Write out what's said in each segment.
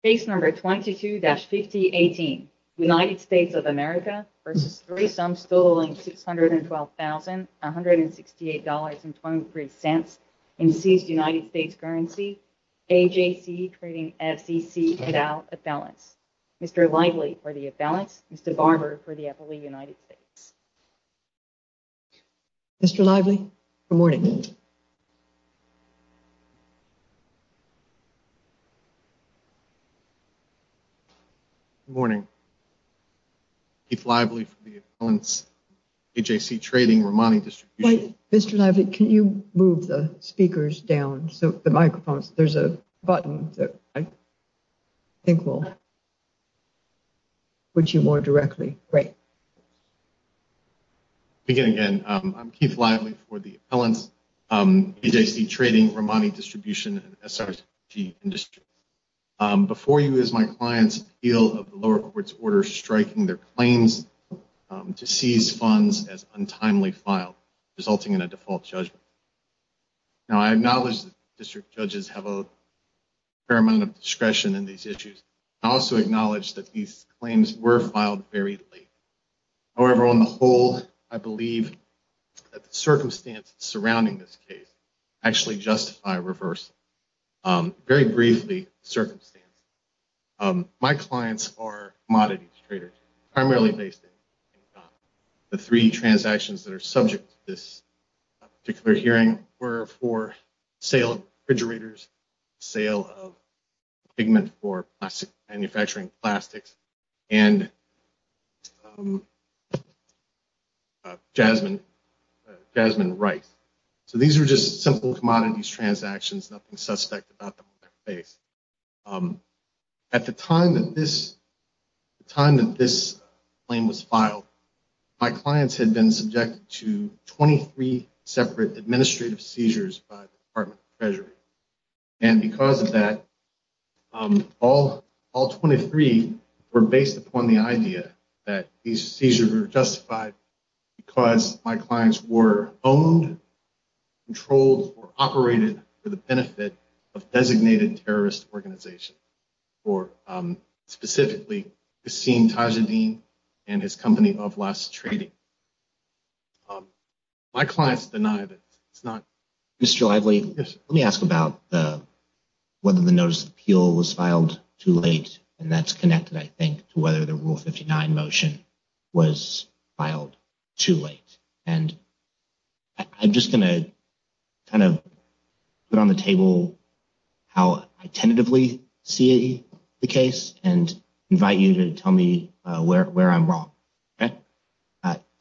States Currency, AJC Trading, FCC, et al., Affluence. Mr. Lively for the Affluence. Mr. Barber for the FLE United States. Mr. Lively, good morning. Good morning, Mr. Barber. Good morning. Keith Lively for the Affluence, AJC Trading, Ramani Distribution. Mr. Lively, can you move the speakers down so the microphones, there's a button that I think will put you more directly. Great. Again, I'm Keith Lively for the Affluence, AJC Trading, Ramani Distribution, and before you is my client's appeal of the lower court's order striking their claims to seize funds as untimely filed, resulting in a default judgment. Now, I acknowledge that district judges have a fair amount of discretion in these issues. I also acknowledge that these claims were filed very late. However, on the whole, I believe that the circumstances surrounding this case actually justify a first, very briefly, circumstance. My clients are commodities traders, primarily based in the three transactions that are subject to this particular hearing were for sale of refrigerators, sale of pigment for manufacturing plastics, and jasmine rice. So these are just simple commodities transactions, nothing suspect about them. At the time that this claim was filed, my clients had been subjected to 23 separate administrative seizures by the Department of Treasury. And because of that, all 23 were based upon the idea that these seizures were justified because my clients were owned, controlled, or operated for the benefit of designated terrorist organizations, or specifically Kassim Tajadin and his company of last trading. My clients denied it. It's not. Mr. Lively, let me ask about whether the notice of appeal was filed too late, and that's connected, I think, to whether the Rule 59 motion was filed too late. And I'm just going to kind of put on the table how I tentatively see the case and invite you to tell me where I'm wrong.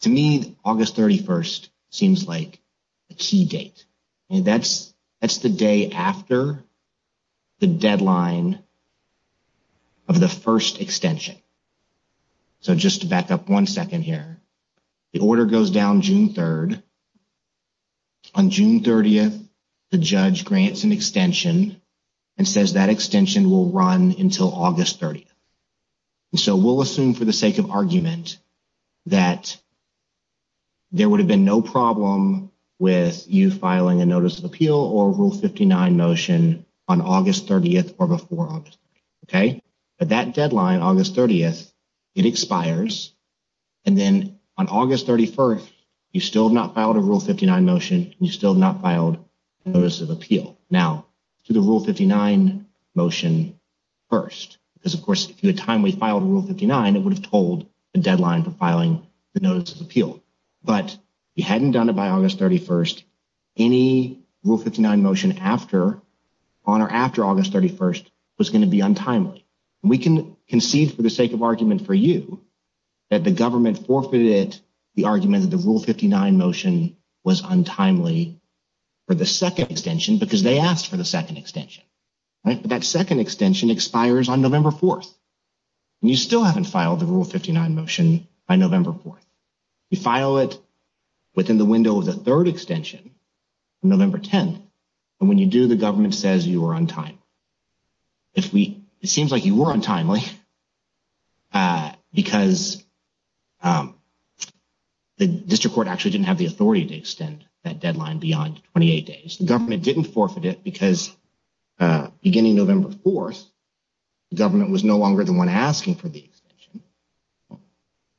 To me, August 31st seems like a key date. That's the day after the deadline of the first extension. So just to back up one second here, the order goes down June 3rd. On June 30th, the judge grants an extension will run until August 30th. And so we'll assume for the sake of argument that there would have been no problem with you filing a notice of appeal or a Rule 59 motion on August 30th or before August 30th. Okay? But that deadline, August 30th, it expires. And then on August 31st, you still have not filed a Rule 59 motion. You still have not filed a notice of appeal. Now, to the Rule 59 motion first, because, of course, if you had timely filed a Rule 59, it would have told the deadline for filing the notice of appeal. But you hadn't done it by August 31st. Any Rule 59 motion on or after August 31st was going to be untimely. And we can concede for the sake of argument for you that the deadline was untimely for the second extension because they asked for the second extension. Right? But that second extension expires on November 4th. And you still haven't filed the Rule 59 motion by November 4th. You file it within the window of the third extension, November 10th. And when you do, the government says you are on time. It seems like you were untimely because the district court actually didn't have the authority to extend that deadline beyond 28 days. The government didn't forfeit it because beginning November 4th, the government was no longer the one asking for the extension.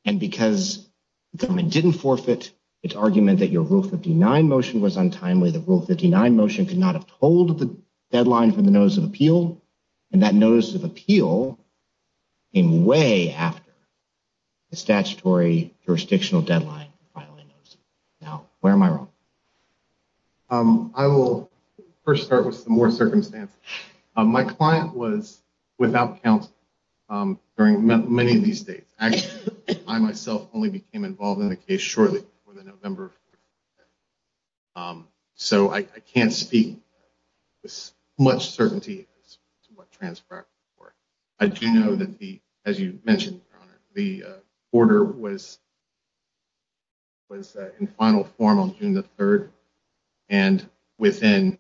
And because the government didn't forfeit its argument that your Rule 59 motion was untimely, the Rule 59 motion could not have told the deadline for the notice of appeal. And that notice of appeal came way after the statutory jurisdictional deadline. Now, where am I wrong? I will first start with some more circumstances. My client was without counsel during many of these states. Actually, I myself only became involved in the case shortly before the November 4th. So I can't speak with as much certainty as to what transpired before. I do know that, as you mentioned, Your Honor, the order was in final form on June the 3rd. And within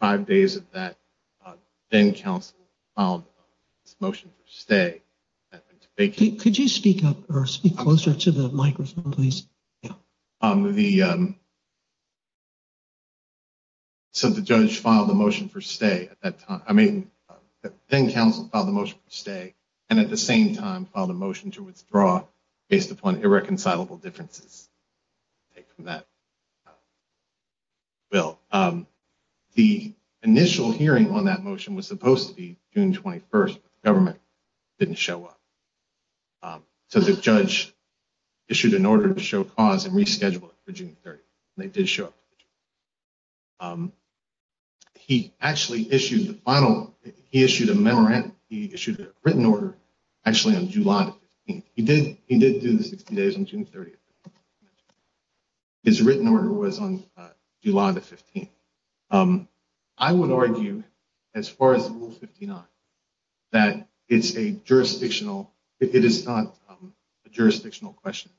five days of that, then-counsel filed a motion for stay. Could you speak up or speak closer to the microphone, please? So the judge filed a motion for stay at that time. I mean, then-counsel filed a motion for stay and at the same time filed a motion to withdraw based upon irreconcilable differences. Well, the initial hearing on that motion was supposed to be June 21st. The government didn't show up. So the judge issued an order to show cause and rescheduled it for June 30th. They did show up. He actually issued the final one. He issued a memorandum. He issued a written order actually on July 15th. He did do the 60 days on June 30th. His written order was on July the 15th. I would argue, as far as Rule 59, that it's a jurisdictional – it is not a jurisdictional question.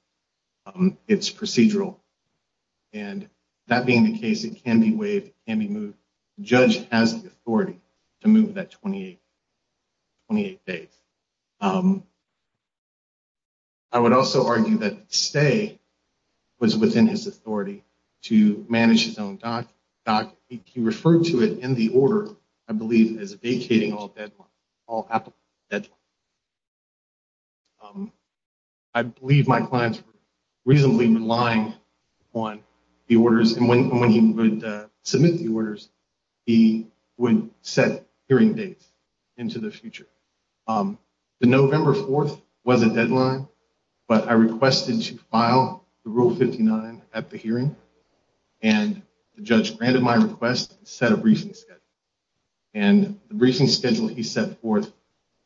It's procedural. And that being the case, it can be waived. It can be moved. The judge has the authority to move that 28 days. I would also argue that stay was within his authority to manage his own doc. He referred to it in the order, I believe, as vacating all deadlines, all applicable deadlines. I believe my clients were reasonably relying on the orders. And when he would submit the orders, he would set hearing dates into the future. The November 4th was a deadline, but I requested to file the Rule 59 at the hearing. And the judge granted my request and set a briefing schedule. And the briefing schedule he set forth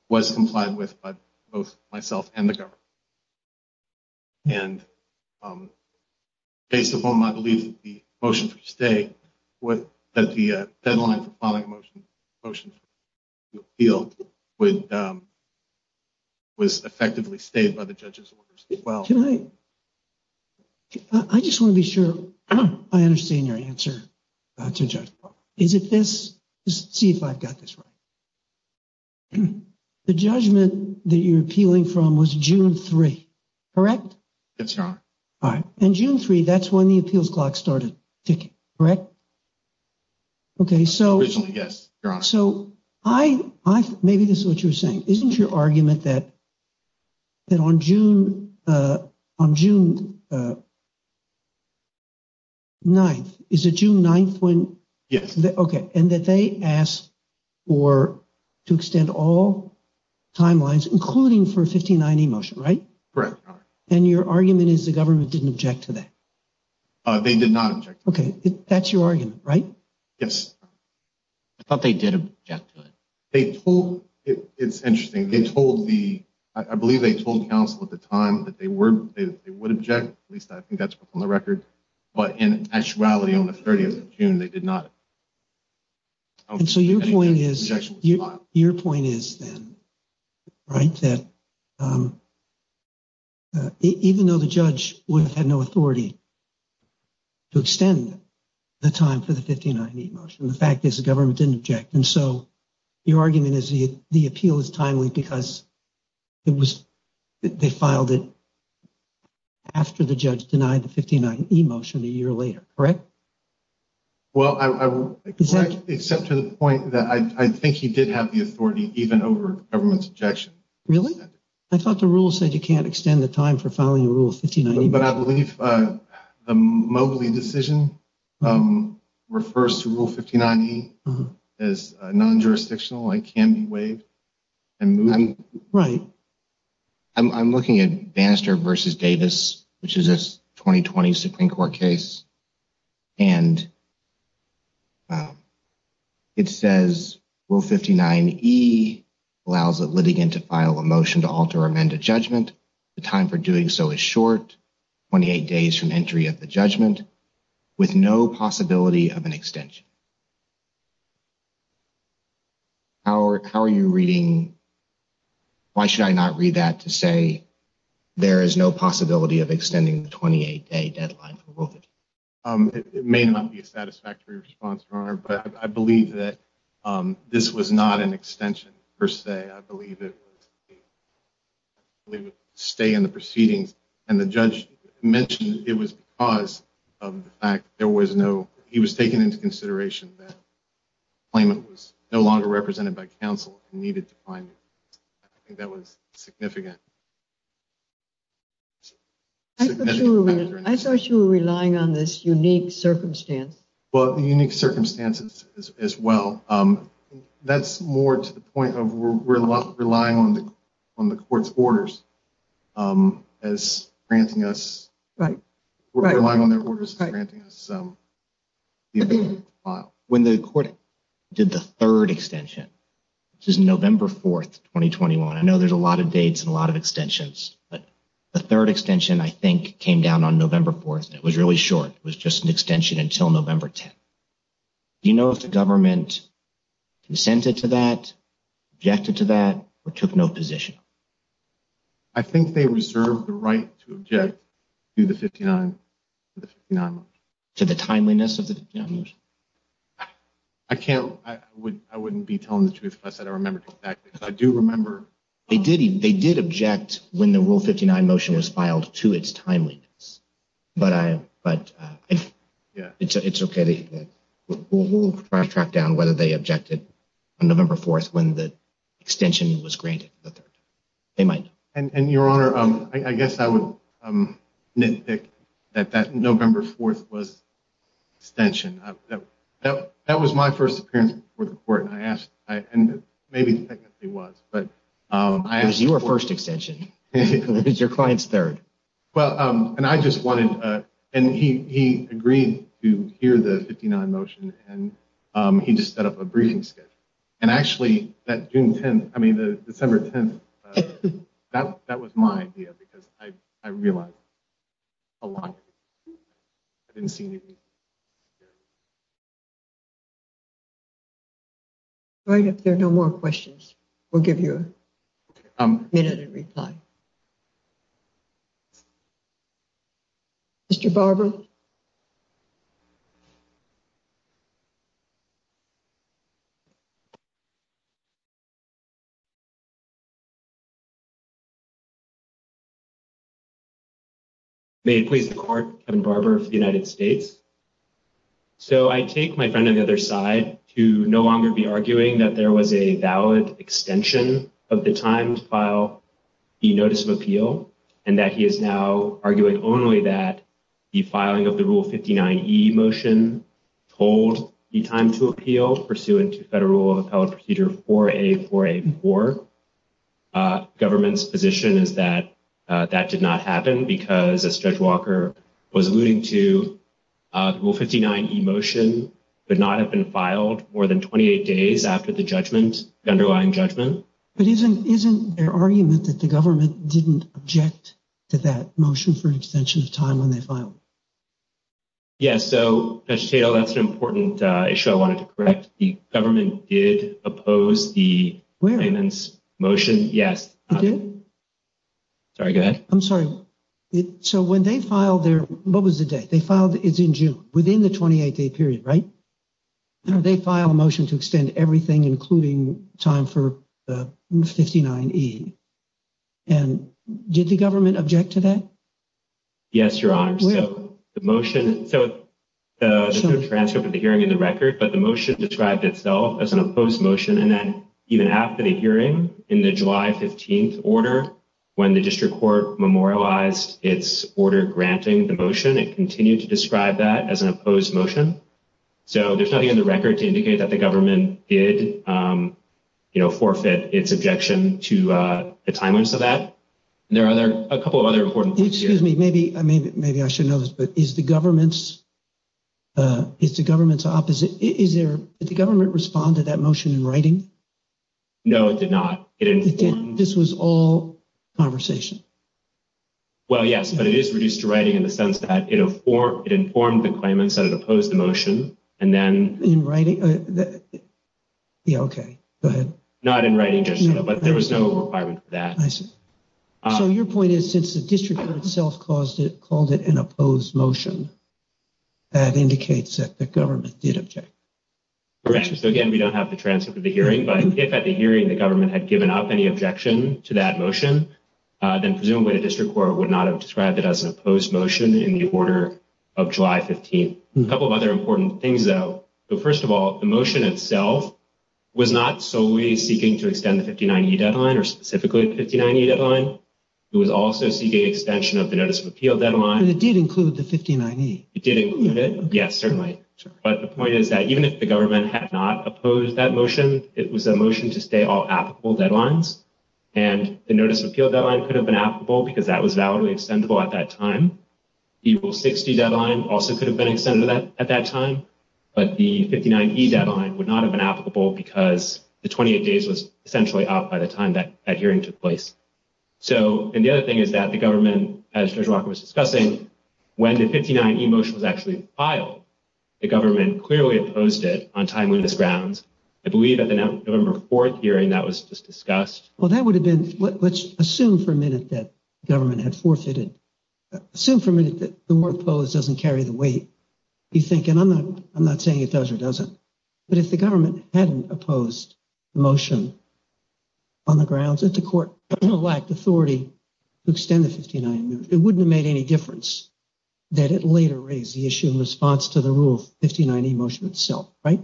was complied with by both myself and the government. And based upon my belief that the deadline for filing a motion to appeal was effectively stayed by the judge's orders as well. Can I – I just want to be sure I understand your answer to judge. Is it this? Let's see if I've got this right. The judgment that you're appealing from was June 3, correct? Yes, Your Honor. All right. And June 3, that's when the appeals clock started ticking, correct? Originally, yes, Your Honor. So I – maybe this is what you were saying. Isn't your argument that on June 9th – is it June 9th when – Yes. Okay. And that they asked for – to extend all timelines, including for a 1590 motion, right? Correct, Your Honor. And your argument is the government didn't object to that? They did not object to that. Okay. That's your argument, right? Yes. I thought they did object to it. It's interesting. They told the – I believe they told counsel at the time that they would object. At least I think that's from the record. But in actuality, on the 30th of June, they did not. And so your point is then, right, that even though the judge would have had no authority to extend the time for the 1590 motion, the fact is the government didn't object. And so your argument is the appeal is timely because it was – they filed it after the judge denied the 1590 motion a year later, correct? Well, except to the point that I think he did have the authority even over government's objection. Really? I thought the rule said you can't extend the time for filing a rule of 1590. But I believe the Mobley decision refers to Rule 59E as non-jurisdictional. It can be waived and moved. Right. I'm looking at Bannister v. Davis, which is a 2020 Supreme Court case. And it says Rule 59E allows a litigant to file a motion to alter or amend a judgment. The time for doing so is short, 28 days from entry of the judgment, with no possibility of an extension. How are you reading – why should I not read that to say there is no possibility of extending the 28-day deadline for both of you? It may not be a satisfactory response, Your Honor, but I believe that this was not an extension per se. I believe it was a stay in the proceedings. And the judge mentioned it was because of the fact there was no – he was taking into consideration that the claimant was no longer represented by counsel and needed to find him. I think that was significant. I thought you were relying on this unique circumstance. Well, unique circumstances as well. That's more to the point of we're relying on the court's orders as granting us – we're relying on their orders as granting us the ability to file. When the court did the third extension, which is November 4th, 2021 – I know there's a lot of dates and a lot of extensions, but the third extension, I think, came down on November 4th, and it was really short. It was just an extension until November 10th. Do you know if the government consented to that, objected to that, or took no position? I think they reserved the right to object to the 59 – to the 59 motion. To the timeliness of the 59 motion? I can't – I wouldn't be telling the truth if I said I remember exactly. But I do remember – They did object when the Rule 59 motion was filed to its timeliness. But I – but it's okay. We'll track down whether they objected on November 4th when the extension was granted the third time. They might know. And, Your Honor, I guess I would nitpick that that November 4th was extension. That was my first appearance before the court, and I asked – and maybe technically was, but I asked – It was your first extension. It was your client's third. Well, and I just wanted – and he agreed to hear the 59 motion, and he just set up a briefing schedule. And actually, that June 10th – I mean, the December 10th – that was my idea, because I realized a lot. I didn't see anything. All right. If there are no more questions, we'll give you a minute and reply. Mr. Barber? May it please the Court, Kevin Barber for the United States. So, I take my friend on the other side to no longer be arguing that there was a valid extension of the time to file the notice of appeal and that he is now arguing only that the filing of the Rule 59e motion told the time to appeal pursuant to Federal Rule of Appellate Procedure 4A4A4. Government's position is that that did not happen because, as Judge Walker was alluding to, the Rule 59e motion could not have been filed more than 28 days after the judgment – the underlying judgment. But isn't there argument that the government didn't object to that motion for an extension of time when they filed it? Yes. So, Judge Tatel, that's an important issue I wanted to correct. The government did oppose the claimant's motion. Where? Yes. It did? Sorry, go ahead. I'm sorry. So, when they filed their – what was the date? They filed – it's in June – within the 28-day period, right? They filed a motion to extend everything, including time for the Rule 59e. And did the government object to that? Yes, Your Honor. Where? So, the motion – so, there's no transcript of the hearing in the record, but the motion described itself as an opposed motion, and then even after the hearing, in the July 15th order, when the district court memorialized its order granting the motion, it continued to describe that as an opposed motion. So, there's nothing in the record to indicate that the government did, you know, forfeit its objection to the timeliness of that. And there are a couple of other important points here. Excuse me. Maybe I should know this, but is the government's – is the government's opposite – is there – did the government respond to that motion in writing? No, it did not. It informed – This was all conversation. Well, yes, but it is reduced to writing in the sense that it informed the claimants that it was an opposed motion, and then – In writing? Yeah, okay. Go ahead. Not in writing, but there was no requirement for that. I see. So, your point is since the district court itself caused it – called it an opposed motion, that indicates that the government did object. Correct. So, again, we don't have the transcript of the hearing, but if at the hearing the government had given up any objection to that motion, then presumably the district court would not have described it as an opposed motion in the order of July 15th. A couple of other important things, though. So, first of all, the motion itself was not solely seeking to extend the 59E deadline or specifically the 59E deadline. It was also seeking extension of the notice of appeal deadline. But it did include the 59E. It did include it. Yes, certainly. But the point is that even if the government had not opposed that motion, it was a motion to stay all applicable deadlines. And the notice of appeal deadline could have been applicable because that was validly extendable at that time. The April 60 deadline also could have been extended at that time. But the 59E deadline would not have been applicable because the 28 days was essentially up by the time that hearing took place. So, and the other thing is that the government, as Judge Walker was discussing, when the 59E motion was actually filed, the government clearly opposed it on timeliness grounds. I believe at the November 4th hearing that was just discussed. Well, that would have been, let's assume for a minute that government had forfeited, assume for a minute that the word opposed doesn't carry the weight. You think, and I'm not saying it does or doesn't. But if the government hadn't opposed the motion on the grounds that the court lacked authority to extend the 59E motion, it wouldn't have made any difference that it later raised the issue in response to the rule of 59E motion itself, right?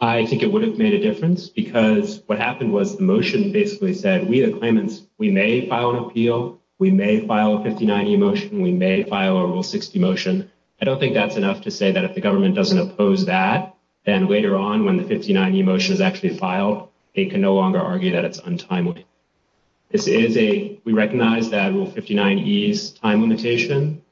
I think it would have made a difference because what happened was the motion basically said we, the claimants, we may file an appeal. We may file a 59E motion. We may file a Rule 60 motion. I don't think that's enough to say that if the government doesn't oppose that, then later on when the 59E motion is actually filed, they can no longer argue that it's untimely. This is a, we recognize that Rule 59E's time limitation,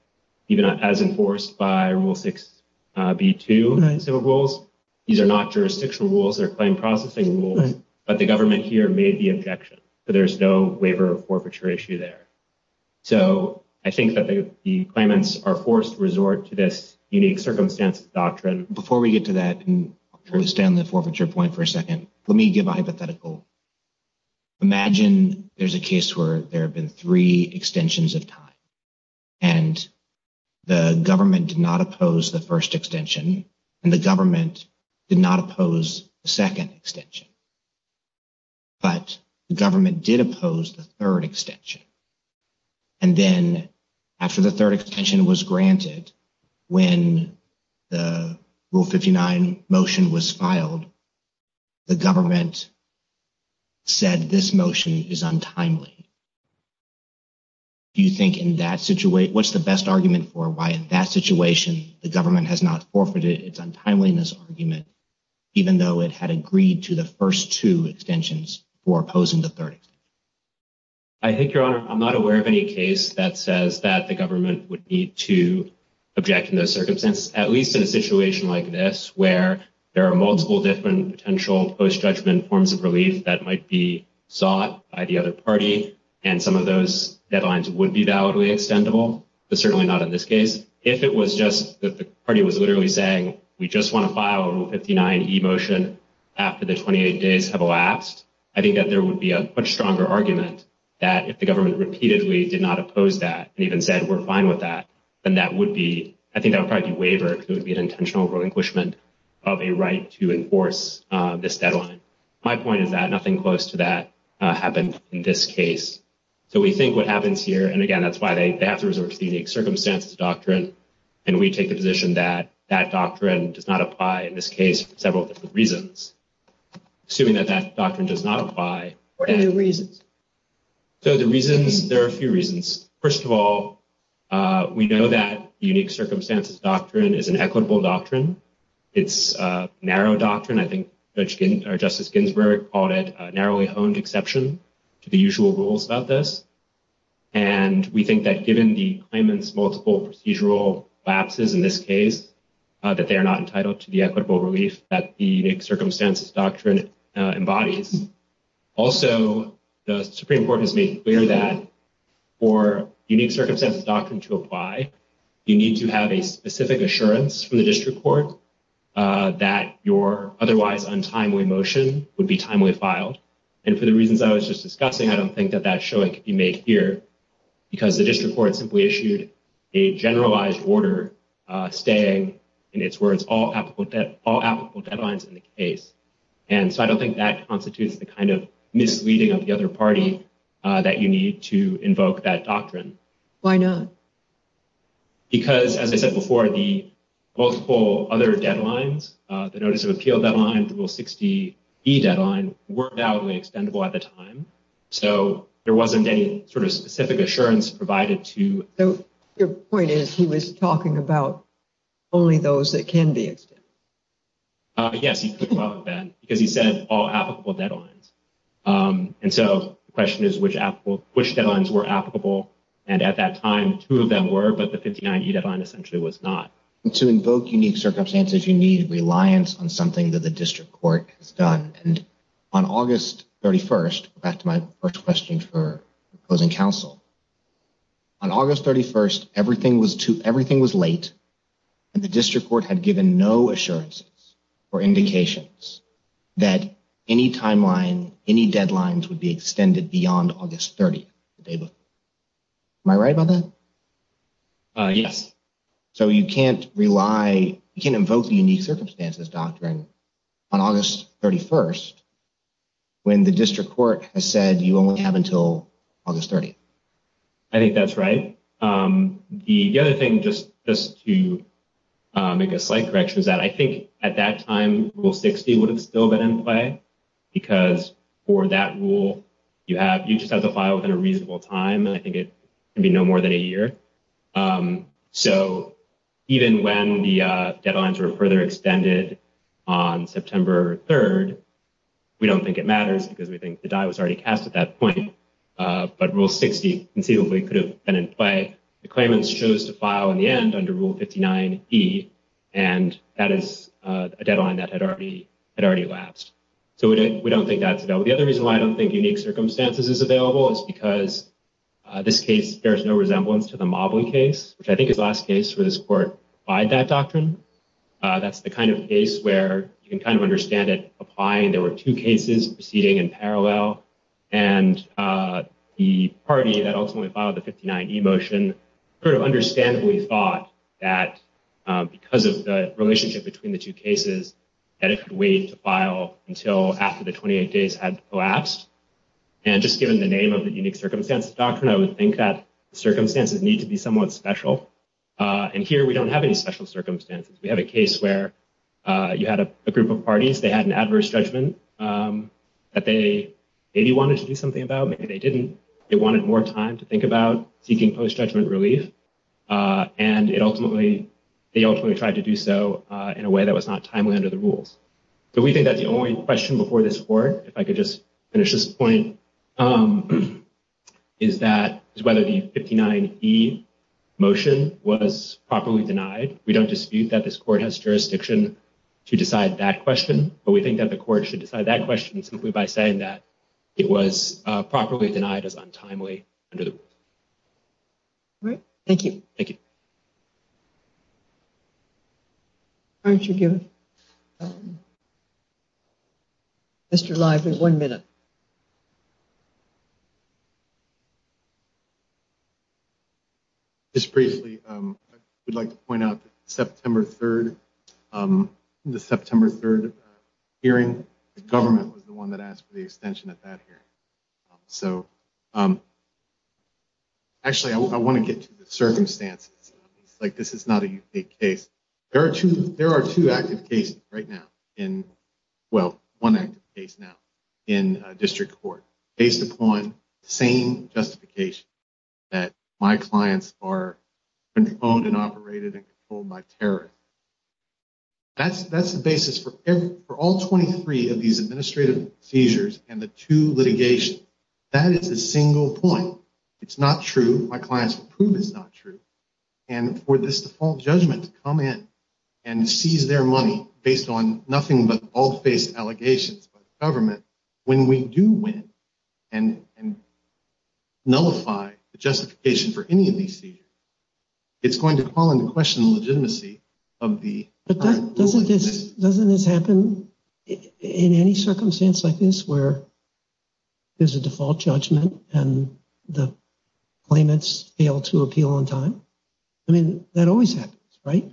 even as enforced by Rule 6B2, civil rules, these are not jurisdictional rules, they're claim processing rules, but the government here made the objection. So there's no waiver or forfeiture issue there. So I think that the claimants are forced to resort to this unique circumstances doctrine. Before we get to that, and I'll turn this down to the forfeiture point for a second, let me give a hypothetical. Imagine there's a case where there have been three extensions of time and the government did not oppose the first extension and the government did not oppose the second extension. But the government did oppose the third extension. And then after the third extension was granted, when the Rule 59 motion was filed, the government said this motion is untimely. Do you think in that situation, what's the best argument for why in that situation the government has not forfeited its untimeliness argument, even though it had agreed to the first two extensions for opposing the third extension? I think, Your Honor, I'm not aware of any case that says that the government would need to object in those circumstances, at least in a situation like this, where there are multiple different potential post-judgment forms of relief that might be sought by the other party. And some of those deadlines would be validly extendable, but certainly not in this case. If it was just that the party was literally saying, we just want to file a Rule 59e motion after the 28 days have elapsed, I think that there would be a much stronger argument that if the government repeatedly did not oppose that and even said, we're fine with that, then that would be, I think that would probably be a waiver, because it would be an intentional relinquishment of a right to enforce this deadline. My point is that nothing close to that happened in this case. So we think what happens here, and again, that's why they have to resort to the unique circumstances doctrine, and we take the position that that doctrine does not apply in this case for several different reasons, assuming that that doctrine does not apply. What are the reasons? So the reasons, there are a few reasons. First of all, we know that the unique circumstances doctrine is an equitable doctrine. It's a narrow doctrine. I think Justice Ginsburg called it a narrowly honed exception to the usual rules about this. And we think that given the claimant's multiple procedural lapses in this case, that they are not entitled to the equitable relief that the unique circumstances doctrine embodies. Also, the Supreme Court has made clear that for unique circumstances doctrine to apply, you need to have a specific assurance from the district court that your otherwise untimely motion would be timely filed. And for the reasons I was just discussing, I don't think that that showing can be made here, because the district court simply issued a generalized order staying, in its words, all applicable deadlines in the case. And so I don't think that constitutes the kind of misleading of the other party that you need to invoke that doctrine. Why not? Because, as I said before, the multiple other deadlines, the Notice of Appeal deadline, the Rule 60E deadline, were doubly extendable at the time. So there wasn't any sort of specific assurance provided to... So your point is he was talking about only those that can be extended. Yes, he could have been, because he said all applicable deadlines. And so the question is which deadlines were applicable. And at that time, two of them were, but the 59E deadline essentially was not. To invoke unique circumstances, you need reliance on something that the district court has done. And on August 31st, back to my first question for closing counsel, on August 31st, everything was late, and the district court had given no assurances or indications that any timeline, any deadlines would be extended beyond August 30th. Am I right about that? Yes. So you can't rely, you can't invoke the unique circumstances doctrine on August 31st when the district court has said you only have until August 30th. I think that's right. The other thing, just to make a slight correction, is that I think at that time, Rule 60 would have still been in play, because for that rule, you just have to file within a reasonable time, and I think it can be no more than a year. So even when the deadlines were further extended on September 3rd, we don't think it matters because we think the die was already cast at that point, but Rule 60 conceivably could have been in play. The claimants chose to file in the end under Rule 59E, and that is a deadline that had already elapsed. So we don't think that's available. The other reason why I don't think unique circumstances is available is because this case bears no resemblance to the Mobley case, which I think is the last case where this court applied that doctrine. That's the kind of case where you can kind of understand it applying. There were two cases proceeding in parallel, and the party that ultimately filed the 59E motion sort of understandably thought that because of the relationship between the two cases, that it could wait to file until after the 28 days had collapsed. And just given the name of the unique circumstances doctrine, I would think that the circumstances need to be somewhat special. And here we don't have any special circumstances. We have a case where you had a group of parties. They had an adverse judgment that they maybe wanted to do something about. Maybe they didn't. They wanted more time to think about seeking post-judgment relief, and they ultimately tried to do so in a way that was not timely under the rules. So we think that the only question before this court, if I could just finish this point, is whether the 59E motion was properly denied. We don't dispute that this court has jurisdiction to decide that question, but we think that the court should decide that question simply by saying that it was properly denied as untimely under the rules. All right. Thank you. Thank you. Aren't you given? Mr. Lively, one minute. Just briefly, I would like to point out that September 3rd, the September 3rd hearing, the government was the one that asked for the extension at that hearing. So, actually, I want to get to the circumstances. Like this is not a unique case. There are two active cases right now in, well, one active case now, in district court based upon the same justification, that my clients are controlled and operated and controlled by terrorists. That's the basis for all 23 of these administrative seizures and the two litigations. That is a single point. It's not true. My clients will prove it's not true. And for this default judgment to come in and seize their money based on nothing but all face allegations by the government, when we do win and nullify the justification for any of these seizures, it's going to call into question the legitimacy of the. Doesn't this happen in any circumstance like this where there's a default judgment and the claimants fail to appeal on time? I mean, that always happens, right?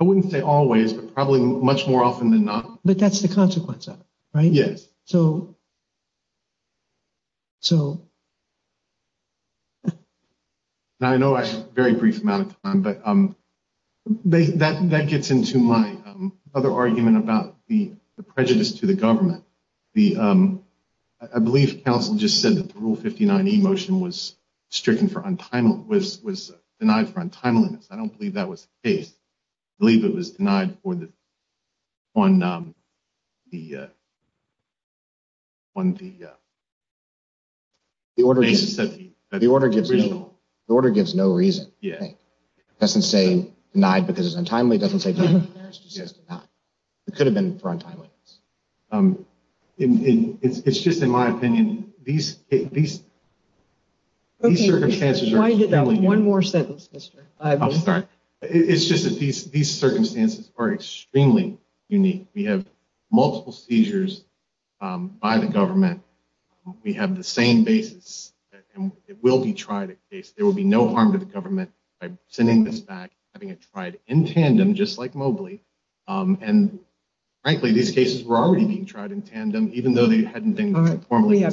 I wouldn't say always, but probably much more often than not. But that's the consequence of it, right? Yes. So. So. Now, I know I have a very brief amount of time, but that gets into my other argument about the prejudice to the government. I believe counsel just said that the Rule 59E motion was stricken for untimely, was denied for untimeliness. I don't believe that was the case. I believe it was denied on the basis of the original. The order gives no reason. It doesn't say denied because it's untimely. It doesn't say denied because it's untimely. It could have been for untimeliness. It's just, in my opinion, these circumstances are. One more sentence. I'm sorry. It's just that these circumstances are extremely unique. We have multiple seizures by the government. We have the same basis. It will be tried. There will be no harm to the government by sending this back, having it tried in tandem, just like Mobley. And frankly, these cases were already being tried in tandem, even though they hadn't been formally.